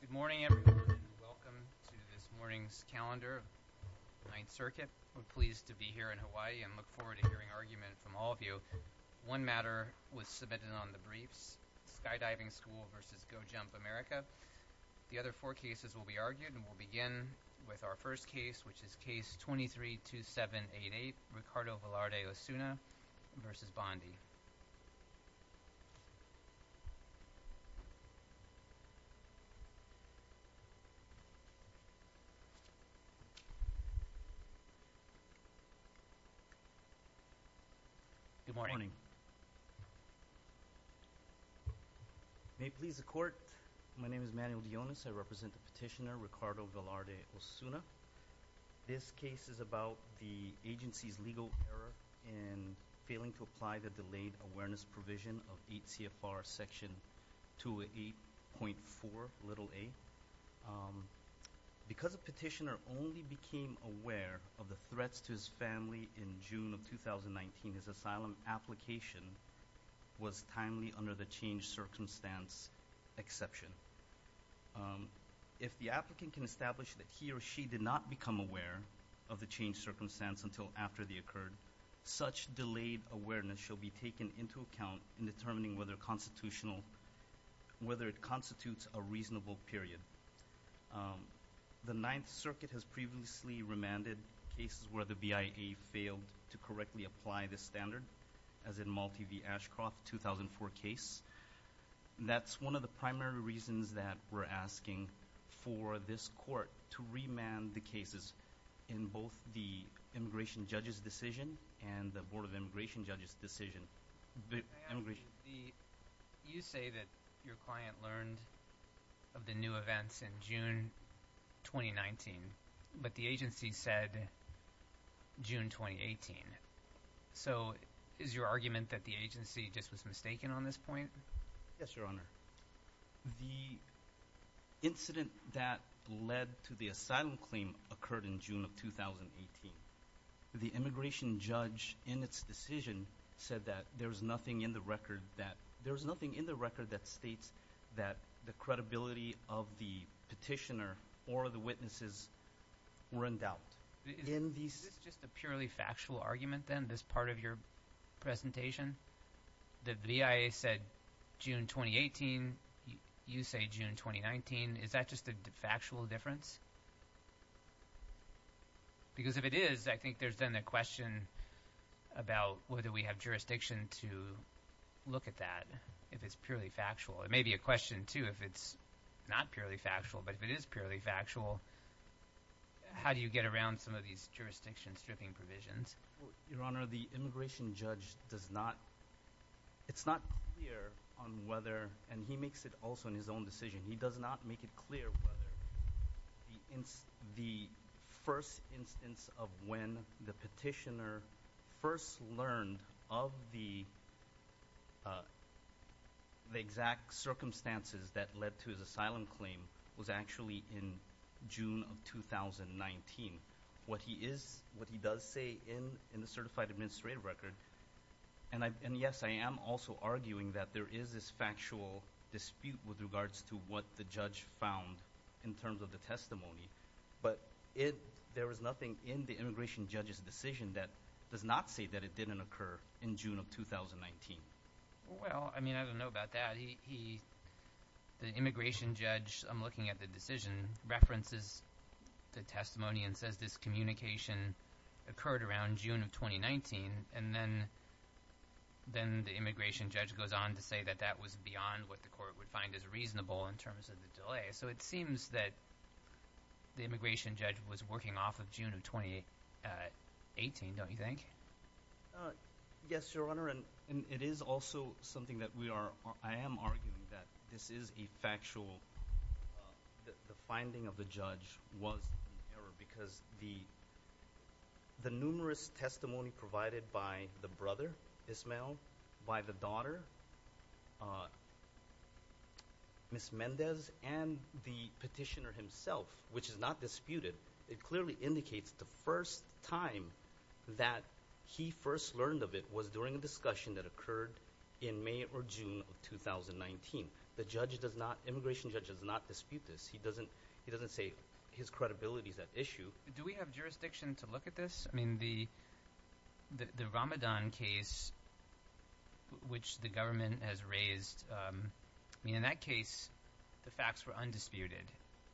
Good morning everyone and welcome to this morning's calendar of the Ninth Circuit. We're pleased to be here in Hawaii and look forward to hearing argument from all of you. One matter was submitted on the briefs, Skydiving School v. Go Jump America. The other four cases will be argued and we'll begin with our first case, which is Case 23-2788, Ricardo Velarde Osuna v. Bondi. Good morning. May it please the Court, my name is Manuel Dionis. I represent the petitioner Ricardo Velarde Osuna. This case is about the agency's legal error in failing to apply the delayed awareness provision of 8 CFR Section 208.4a. Because the petitioner only became aware of the threats to his family in June of 2019, his asylum application was timely under the changed circumstance exception. If the applicant can establish that he or she did not become aware of the changed circumstance until after the occurred, such delayed awareness shall be taken into account in determining whether it constitutes a reasonable period. The Ninth Circuit has previously remanded cases where the BIA failed to correctly apply this standard, as in Malte v. Ashcroft 2004 case. That's one of the primary reasons that we're asking for this Court to remand the cases in both the Immigration Judges' Decision and the Board of Immigration Judges' Decision. You say that your client learned of the new events in June 2019, but the agency said June 2018. So is your argument that the agency just was mistaken on this point? Yes, Your Honor. The incident that led to the asylum claim occurred in June of 2018. The Immigration Judge in its decision said that there's nothing in the record that states that the credibility of the petitioner or the witnesses were in doubt. Is this just a purely factual argument then, this part of your presentation, that the BIA said June 2018, you say June 2019? Is that just a factual difference? Because if it is, I think there's then the question about whether we have jurisdiction to look at that if it's purely factual. It may be a question, too, if it's not purely factual. But if it is purely factual, how do you get around some of these jurisdiction stripping provisions? Your Honor, the Immigration Judge does not – it's not clear on whether – and he makes it also in his own decision. He does not make it clear whether the first instance of when the petitioner first learned of the exact circumstances that led to his asylum claim was actually in June of 2019. What he is – what he does say in the certified administrative record – and yes, I am also arguing that there is this factual dispute with regards to what the judge found in terms of the testimony. But there was nothing in the Immigration Judge's decision that does not say that it didn't occur in June of 2019. Well, I mean I don't know about that. He – the Immigration Judge, I'm looking at the decision, references the testimony and says this communication occurred around June of 2019. And then the Immigration Judge goes on to say that that was beyond what the court would find as reasonable in terms of the delay. So it seems that the Immigration Judge was working off of June of 2018, don't you think? Yes, Your Honor. And it is also something that we are – I am arguing that this is a factual – the finding of the judge was an error because the numerous testimony provided by the brother, Ismael, by the daughter, Ms. Mendez, and the petitioner himself, which is not disputed, it clearly indicates the first time that he first learned of it was during a discussion that occurred in May or June of 2019. The judge does not – Immigration Judge does not dispute this. He doesn't say his credibility is at issue. Do we have jurisdiction to look at this? I mean, the Ramadan case, which the government has raised – I mean, in that case, the facts were undisputed.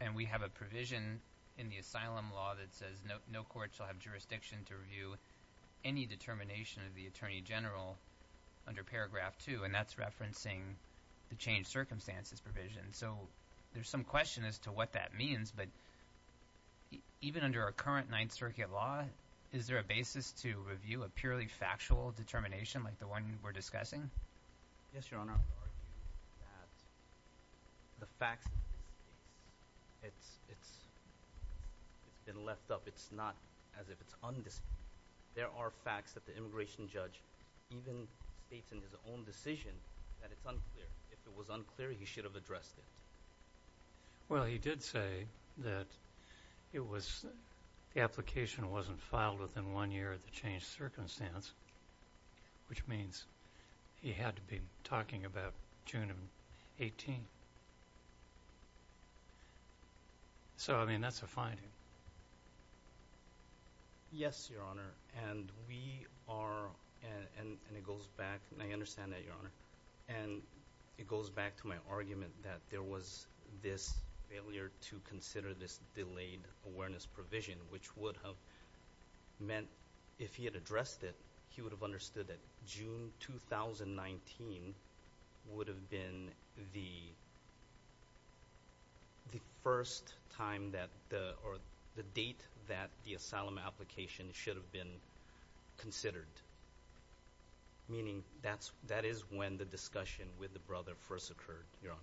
And we have a provision in the asylum law that says no court shall have jurisdiction to review any determination of the attorney general under paragraph two, and that's referencing the changed circumstances provision. So there's some question as to what that means, but even under our current Ninth Circuit law, is there a basis to review a purely factual determination like the one we're discussing? Yes, Your Honor. I would argue that the facts of this case, it's been left up. It's not as if it's undisputed. There are facts that the Immigration Judge even states in his own decision that it's unclear. If it was unclear, he should have addressed it. Well, he did say that it was – the application wasn't filed within one year of the changed circumstance, which means he had to be talking about June of 18. So, I mean, that's a finding. Yes, Your Honor. And we are – and it goes back – and I understand that, Your Honor. And it goes back to my argument that there was this failure to consider this delayed awareness provision, which would have meant if he had addressed it, he would have understood that June 2019 would have been the first time that – or the date that the asylum application should have been considered. Meaning that is when the discussion with the brother first occurred, Your Honor.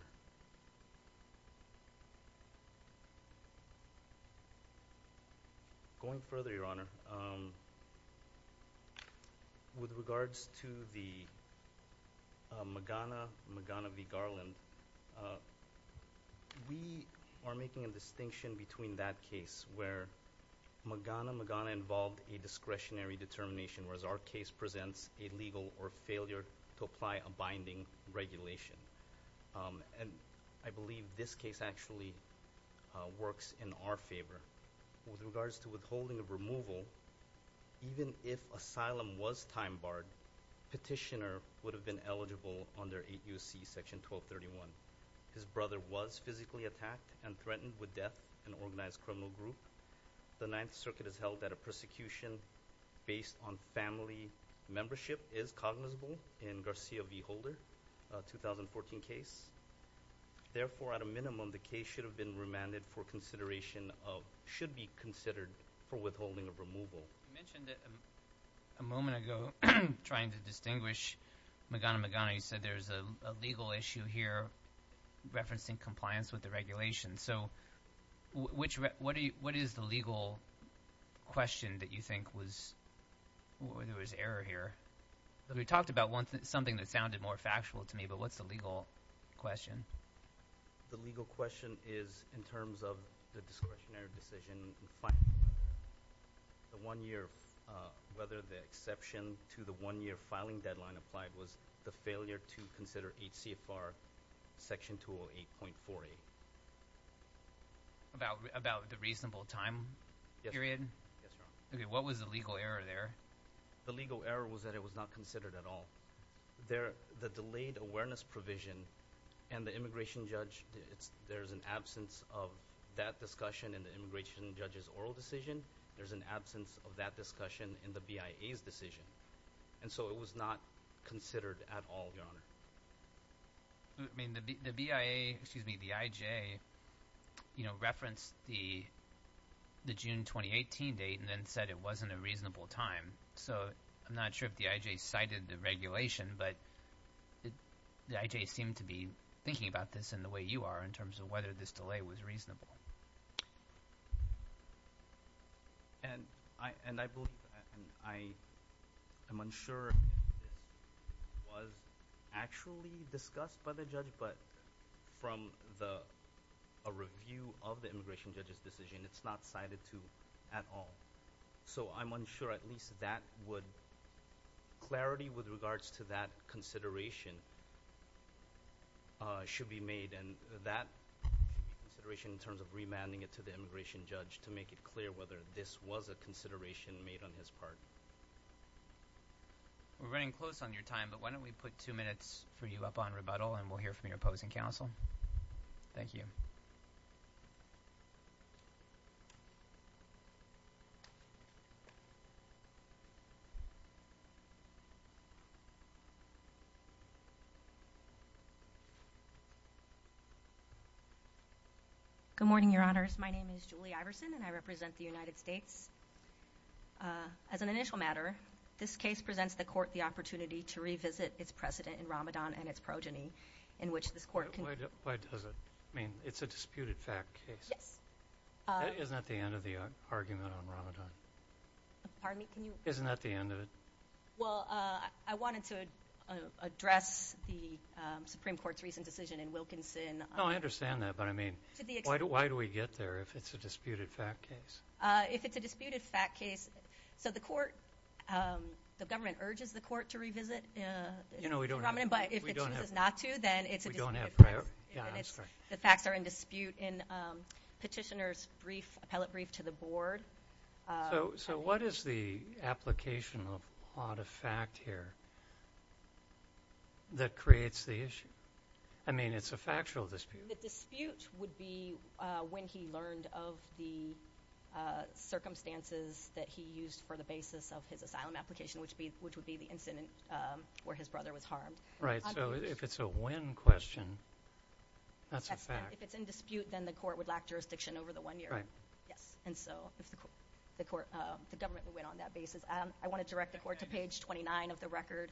Going further, Your Honor, with regards to the Magana-Magana v. Garland, we are making a distinction between that case where Magana-Magana involved a discretionary determination, whereas our case presents a legal or failure to apply a binding regulation. And I believe this case actually works in our favor. With regards to withholding of removal, even if asylum was time barred, petitioner would have been eligible under 8 U.C. Section 1231. His brother was physically attacked and threatened with death, an organized criminal group. The Ninth Circuit has held that a persecution based on family membership is cognizable in Garcia v. Holder, a 2014 case. Therefore, at a minimum, the case should have been remanded for consideration of – should be considered for withholding of removal. You mentioned a moment ago trying to distinguish Magana-Magana. You said there's a legal issue here referencing compliance with the regulation. So what is the legal question that you think was – there was error here. We talked about something that sounded more factual to me, but what's the legal question? The legal question is in terms of the discretionary decision, the one-year – whether the exception to the one-year filing deadline applied was the failure to consider HCFR Section 208.48. About the reasonable time period? Yes, Your Honor. Okay. What was the legal error there? The legal error was that it was not considered at all. The delayed awareness provision and the immigration judge – there's an absence of that discussion in the immigration judge's oral decision. There's an absence of that discussion in the BIA's decision. And so it was not considered at all, Your Honor. The BIA – excuse me, the IJ referenced the June 2018 date and then said it wasn't a reasonable time. So I'm not sure if the IJ cited the regulation, but the IJ seemed to be thinking about this in the way you are in terms of whether this delay was reasonable. And I believe – I am unsure if it was actually discussed by the judge, but from a review of the immigration judge's decision, it's not cited to at all. So I'm unsure at least that would – clarity with regards to that consideration should be made. And that consideration in terms of remanding it to the immigration judge to make it clear whether this was a consideration made on his part. We're running close on your time, but why don't we put two minutes for you up on rebuttal and we'll hear from your opposing counsel. Thank you. Thank you. Good morning, Your Honors. My name is Julie Iverson, and I represent the United States. As an initial matter, this case presents the court the opportunity to revisit its precedent in Ramadan and its progeny in which this court – Why does it? I mean, it's a disputed fact case. Yes. That isn't at the end of the argument on Ramadan. Pardon me, can you – Isn't that the end of it? Well, I wanted to address the Supreme Court's recent decision in Wilkinson. No, I understand that, but I mean, why do we get there if it's a disputed fact case? If it's a disputed fact case – so the court – the government urges the court to revisit Ramadan, but if it chooses not to, then it's a disputed fact case. Yeah, I'm sorry. The facts are in dispute in petitioner's brief, appellate brief to the board. So what is the application of odd effect here that creates the issue? I mean, it's a factual dispute. The dispute would be when he learned of the circumstances that he used for the basis of his asylum application, which would be the incident where his brother was harmed. Right. So if it's a win question, that's a fact. If it's in dispute, then the court would lack jurisdiction over the one year. Right. Yes. And so if the court – the government would win on that basis. I want to direct the court to page 29 of the record,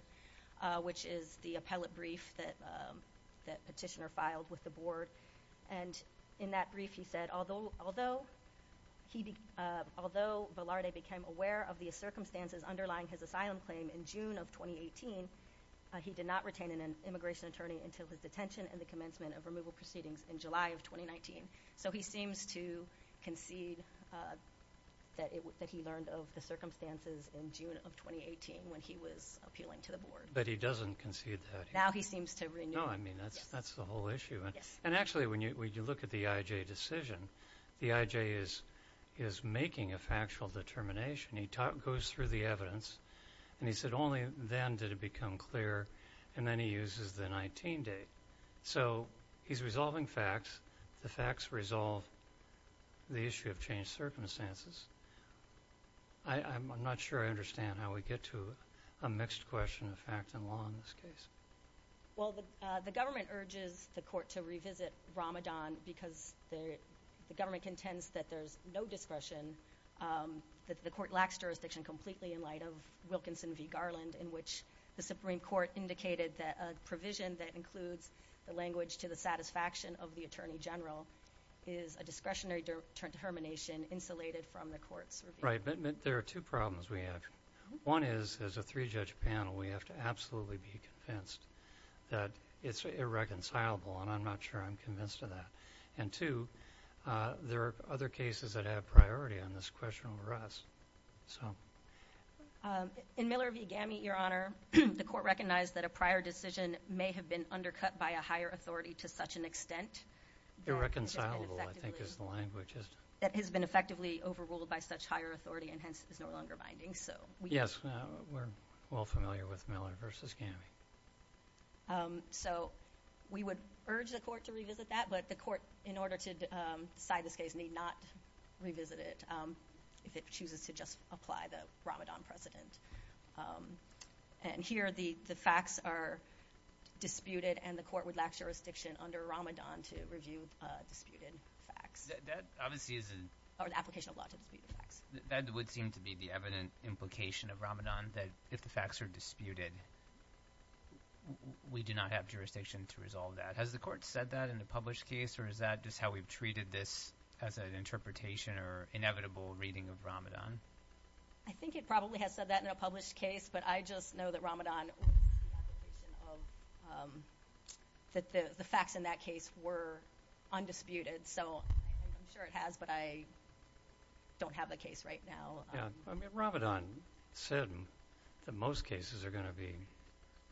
which is the appellate brief that petitioner filed with the board. And in that brief, he said, although Velarde became aware of the circumstances underlying his asylum claim in June of 2018, he did not retain an immigration attorney until his detention and the commencement of removal proceedings in July of 2019. So he seems to concede that he learned of the circumstances in June of 2018 when he was appealing to the board. But he doesn't concede that. Now he seems to renew. No, I mean, that's the whole issue. Yes. And actually, when you look at the IJ decision, the IJ is making a factual determination. He goes through the evidence, and he said only then did it become clear, and then he uses the 19 date. So he's resolving facts. The facts resolve the issue of changed circumstances. I'm not sure I understand how we get to a mixed question of fact and law in this case. Well, the government urges the court to revisit Ramadan because the government contends that there's no discretion, that the court lacks jurisdiction completely in light of Wilkinson v. Garland, in which the Supreme Court indicated that a provision that includes the language to the satisfaction of the attorney general is a discretionary determination insulated from the court's review. Right. There are two problems we have. One is, as a three-judge panel, we have to absolutely be convinced that it's irreconcilable, and I'm not sure I'm convinced of that. And two, there are other cases that have priority on this question for us. In Miller v. Gammy, Your Honor, the court recognized that a prior decision may have been undercut by a higher authority to such an extent. Irreconcilable, I think, is the language. That has been effectively overruled by such higher authority and hence is no longer binding. Yes. We're well familiar with Miller v. Gammy. So we would urge the court to revisit that, but the court, in order to decide this case, need not revisit it if it chooses to just apply the Ramadan precedent. And here the facts are disputed, and the court would lack jurisdiction under Ramadan to review disputed facts. Or the application of law to dispute the facts. That would seem to be the evident implication of Ramadan, that if the facts are disputed, we do not have jurisdiction to resolve that. Has the court said that in a published case, or is that just how we've treated this as an interpretation or inevitable reading of Ramadan? I think it probably has said that in a published case, but I just know that Ramadan was the application of that the facts in that case were undisputed. So I'm sure it has, but I don't have the case right now. I mean, Ramadan said that most cases are going to be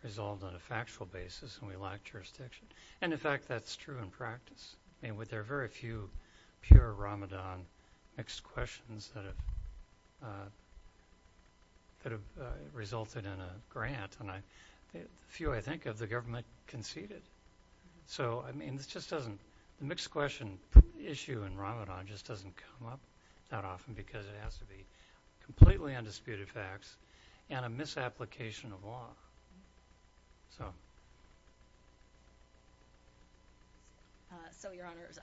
resolved on a factual basis, and we lack jurisdiction. And, in fact, that's true in practice. I mean, there are very few pure Ramadan mixed questions that have resulted in a grant, and the few I think of, the government conceded. So, I mean, the mixed question issue in Ramadan just doesn't come up that often because it has to be completely undisputed facts and a misapplication of law. So, Your Honors,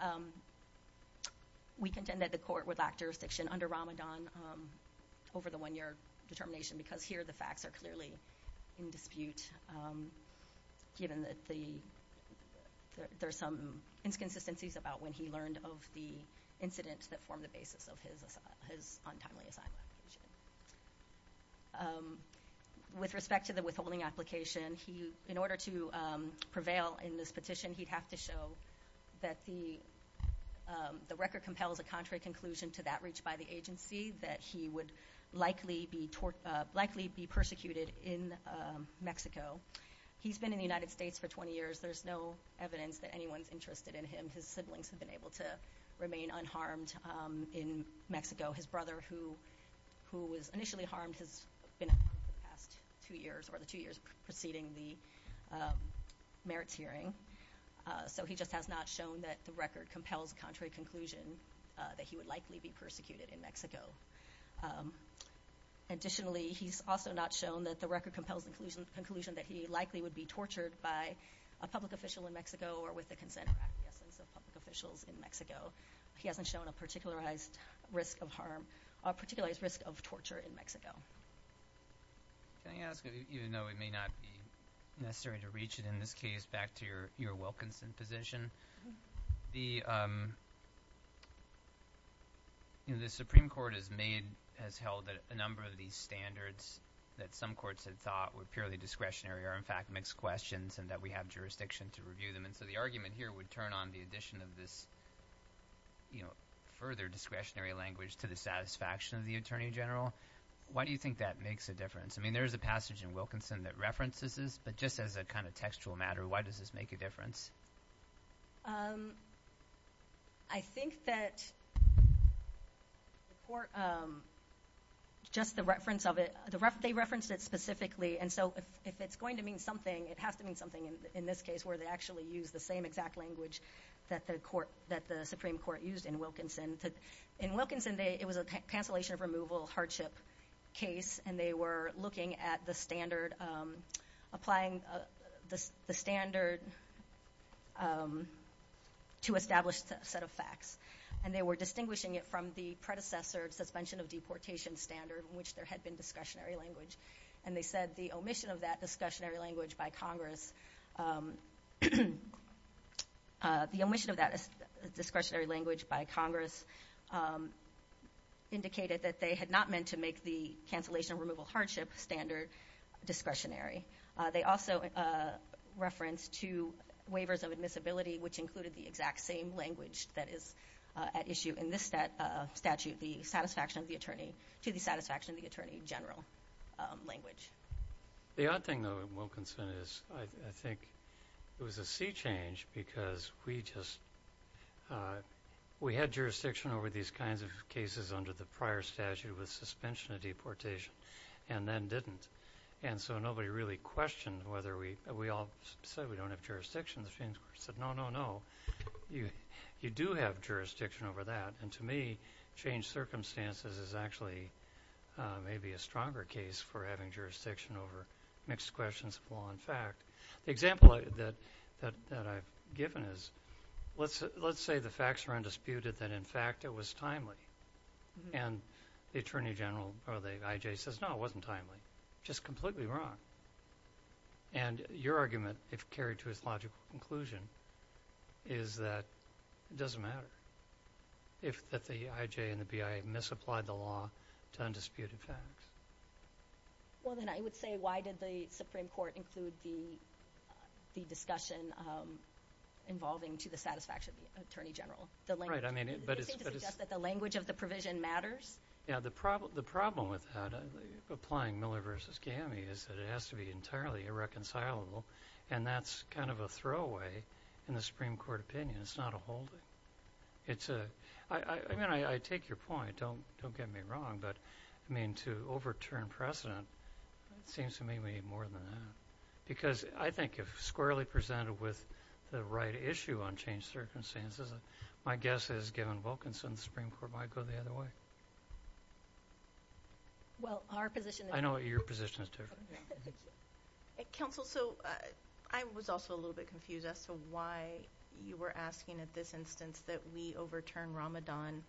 we contend that the court would lack jurisdiction under Ramadan over the one-year determination because here the facts are clearly in dispute, given that there are some inconsistencies about when he learned of the incidents that formed the basis of his untimely asylum application. With respect to the withholding application, in order to prevail in this petition, he'd have to show that the record compels a contrary conclusion to that reached by the agency, that he would likely be persecuted in Mexico. He's been in the United States for 20 years. There's no evidence that anyone's interested in him. His siblings have been able to remain unharmed in Mexico. His brother, who was initially harmed, has been unharmed for the past two years, or the two years preceding the merits hearing. So he just has not shown that the record compels a contrary conclusion that he would likely be persecuted in Mexico. Additionally, he's also not shown that the record compels the conclusion that he likely would be tortured by a public official in Mexico or with the consent of public officials in Mexico. He hasn't shown a particularized risk of harm, a particularized risk of torture in Mexico. Can I ask, even though it may not be necessary to reach it in this case, back to your Wilkinson position, the Supreme Court has held that a number of these standards that some courts had thought were purely discretionary are, in fact, mixed questions and that we have jurisdiction to review them. And so the argument here would turn on the addition of this further discretionary language to the satisfaction of the attorney general. Why do you think that makes a difference? I mean, there is a passage in Wilkinson that references this, but just as a kind of textual matter, why does this make a difference? I think that the court, just the reference of it, they referenced it specifically. And so if it's going to mean something, it has to mean something in this case where they actually use the same exact language that the Supreme Court used in Wilkinson. In Wilkinson, it was a cancellation of removal hardship case, and they were looking at the standard, applying the standard to establish a set of facts. And they were distinguishing it from the predecessor suspension of deportation standard in which there had been discretionary language. And they said the omission of that discretionary language by Congress indicated that they had not meant to make the cancellation of removal hardship standard discretionary. They also referenced two waivers of admissibility, which included the exact same language that is at issue in this statute, the satisfaction of the attorney to the satisfaction of the attorney general language. The odd thing, though, in Wilkinson is I think it was a sea change because we had jurisdiction over these kinds of cases under the prior statute with suspension of deportation and then didn't. And so nobody really questioned whether we all said we don't have jurisdiction. The Supreme Court said, no, no, no, you do have jurisdiction over that. And to me, change circumstances is actually maybe a stronger case for having jurisdiction over mixed questions of law and fact. The example that I've given is let's say the facts are undisputed that, in fact, it was timely. And the attorney general or the IJ says, no, it wasn't timely. Just completely wrong. And your argument, if carried to its logical conclusion, is that it doesn't matter if the IJ and the BIA misapplied the law to undisputed facts. Well, then I would say why did the Supreme Court include the discussion involving to the satisfaction of the attorney general? Right. But it seems to suggest that the language of the provision matters. Yeah. The problem with that, applying Miller v. Gamey, is that it has to be entirely irreconcilable. And that's kind of a throwaway in the Supreme Court opinion. It's not a holding. I mean, I take your point. Don't get me wrong. But, I mean, to overturn precedent seems to me more than that. Because I think if squarely presented with the right issue on change circumstances, my guess is given Wilkinson, the Supreme Court might go the other way. Well, our position is different. I know your position is different. Counsel, so I was also a little bit confused as to why you were asking at this instance that we overturn Ramadan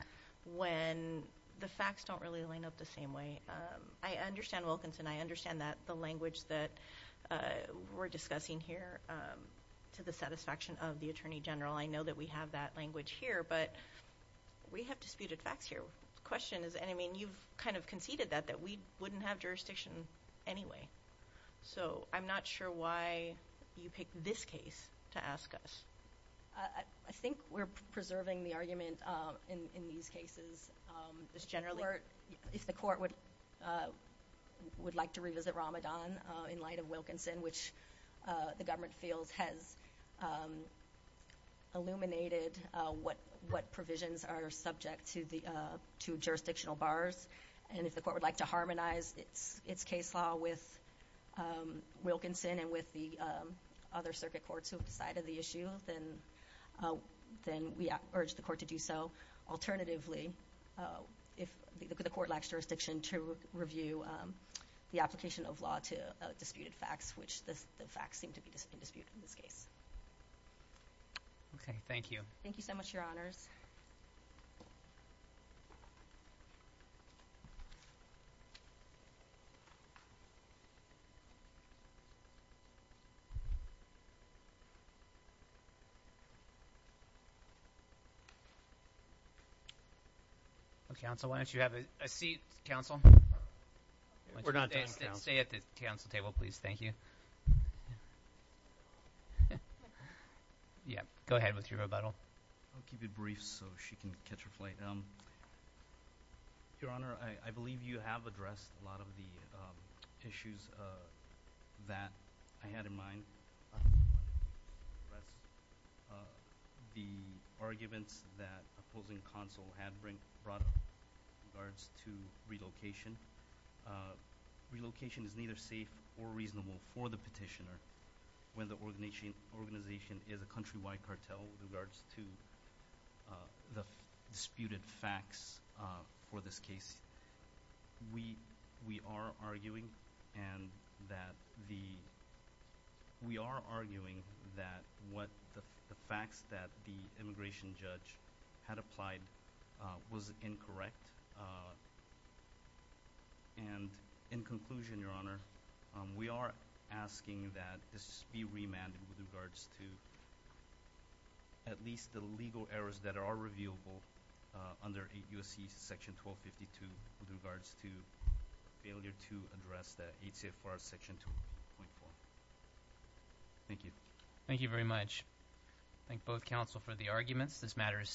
when the facts don't really line up the same way. I understand Wilkinson. I understand that the language that we're discussing here to the satisfaction of the attorney general, I know that we have that language here, but we have disputed facts here. The question is, and I mean, you've kind of conceded that, that we wouldn't have jurisdiction anyway. So I'm not sure why you picked this case to ask us. I think we're preserving the argument in these cases. If the court would like to revisit Ramadan in light of Wilkinson, in which the government feels has illuminated what provisions are subject to jurisdictional bars, and if the court would like to harmonize its case law with Wilkinson and with the other circuit courts who have decided the issue, then we urge the court to do so. Alternatively, if the court lacks jurisdiction to review the application of law to disputed facts, which the facts seem to be disputed in this case. Okay. Thank you. Thank you so much, Your Honors. Counsel, why don't you have a seat, counsel? We're not done, counsel. Stay at the counsel table, please. Thank you. Go ahead with your rebuttal. I'll keep it brief so she can catch her flight. Your Honor, I believe you have addressed a lot of the issues that I had in mind. The arguments that opposing counsel had brought up in regards to relocation. Relocation is neither safe or reasonable for the petitioner when the organization is a countrywide cartel with regards to the disputed facts for this case. We are arguing that the facts that the immigration judge had applied was incorrect. And in conclusion, Your Honor, we are asking that this be remanded with regards to at least the legal errors that are reviewable under 8 U.S.C. section 1252 with regards to failure to address the 8 CFR section 2.4. Thank you. Thank you very much. Thank both counsel for the arguments. This matter is submitted.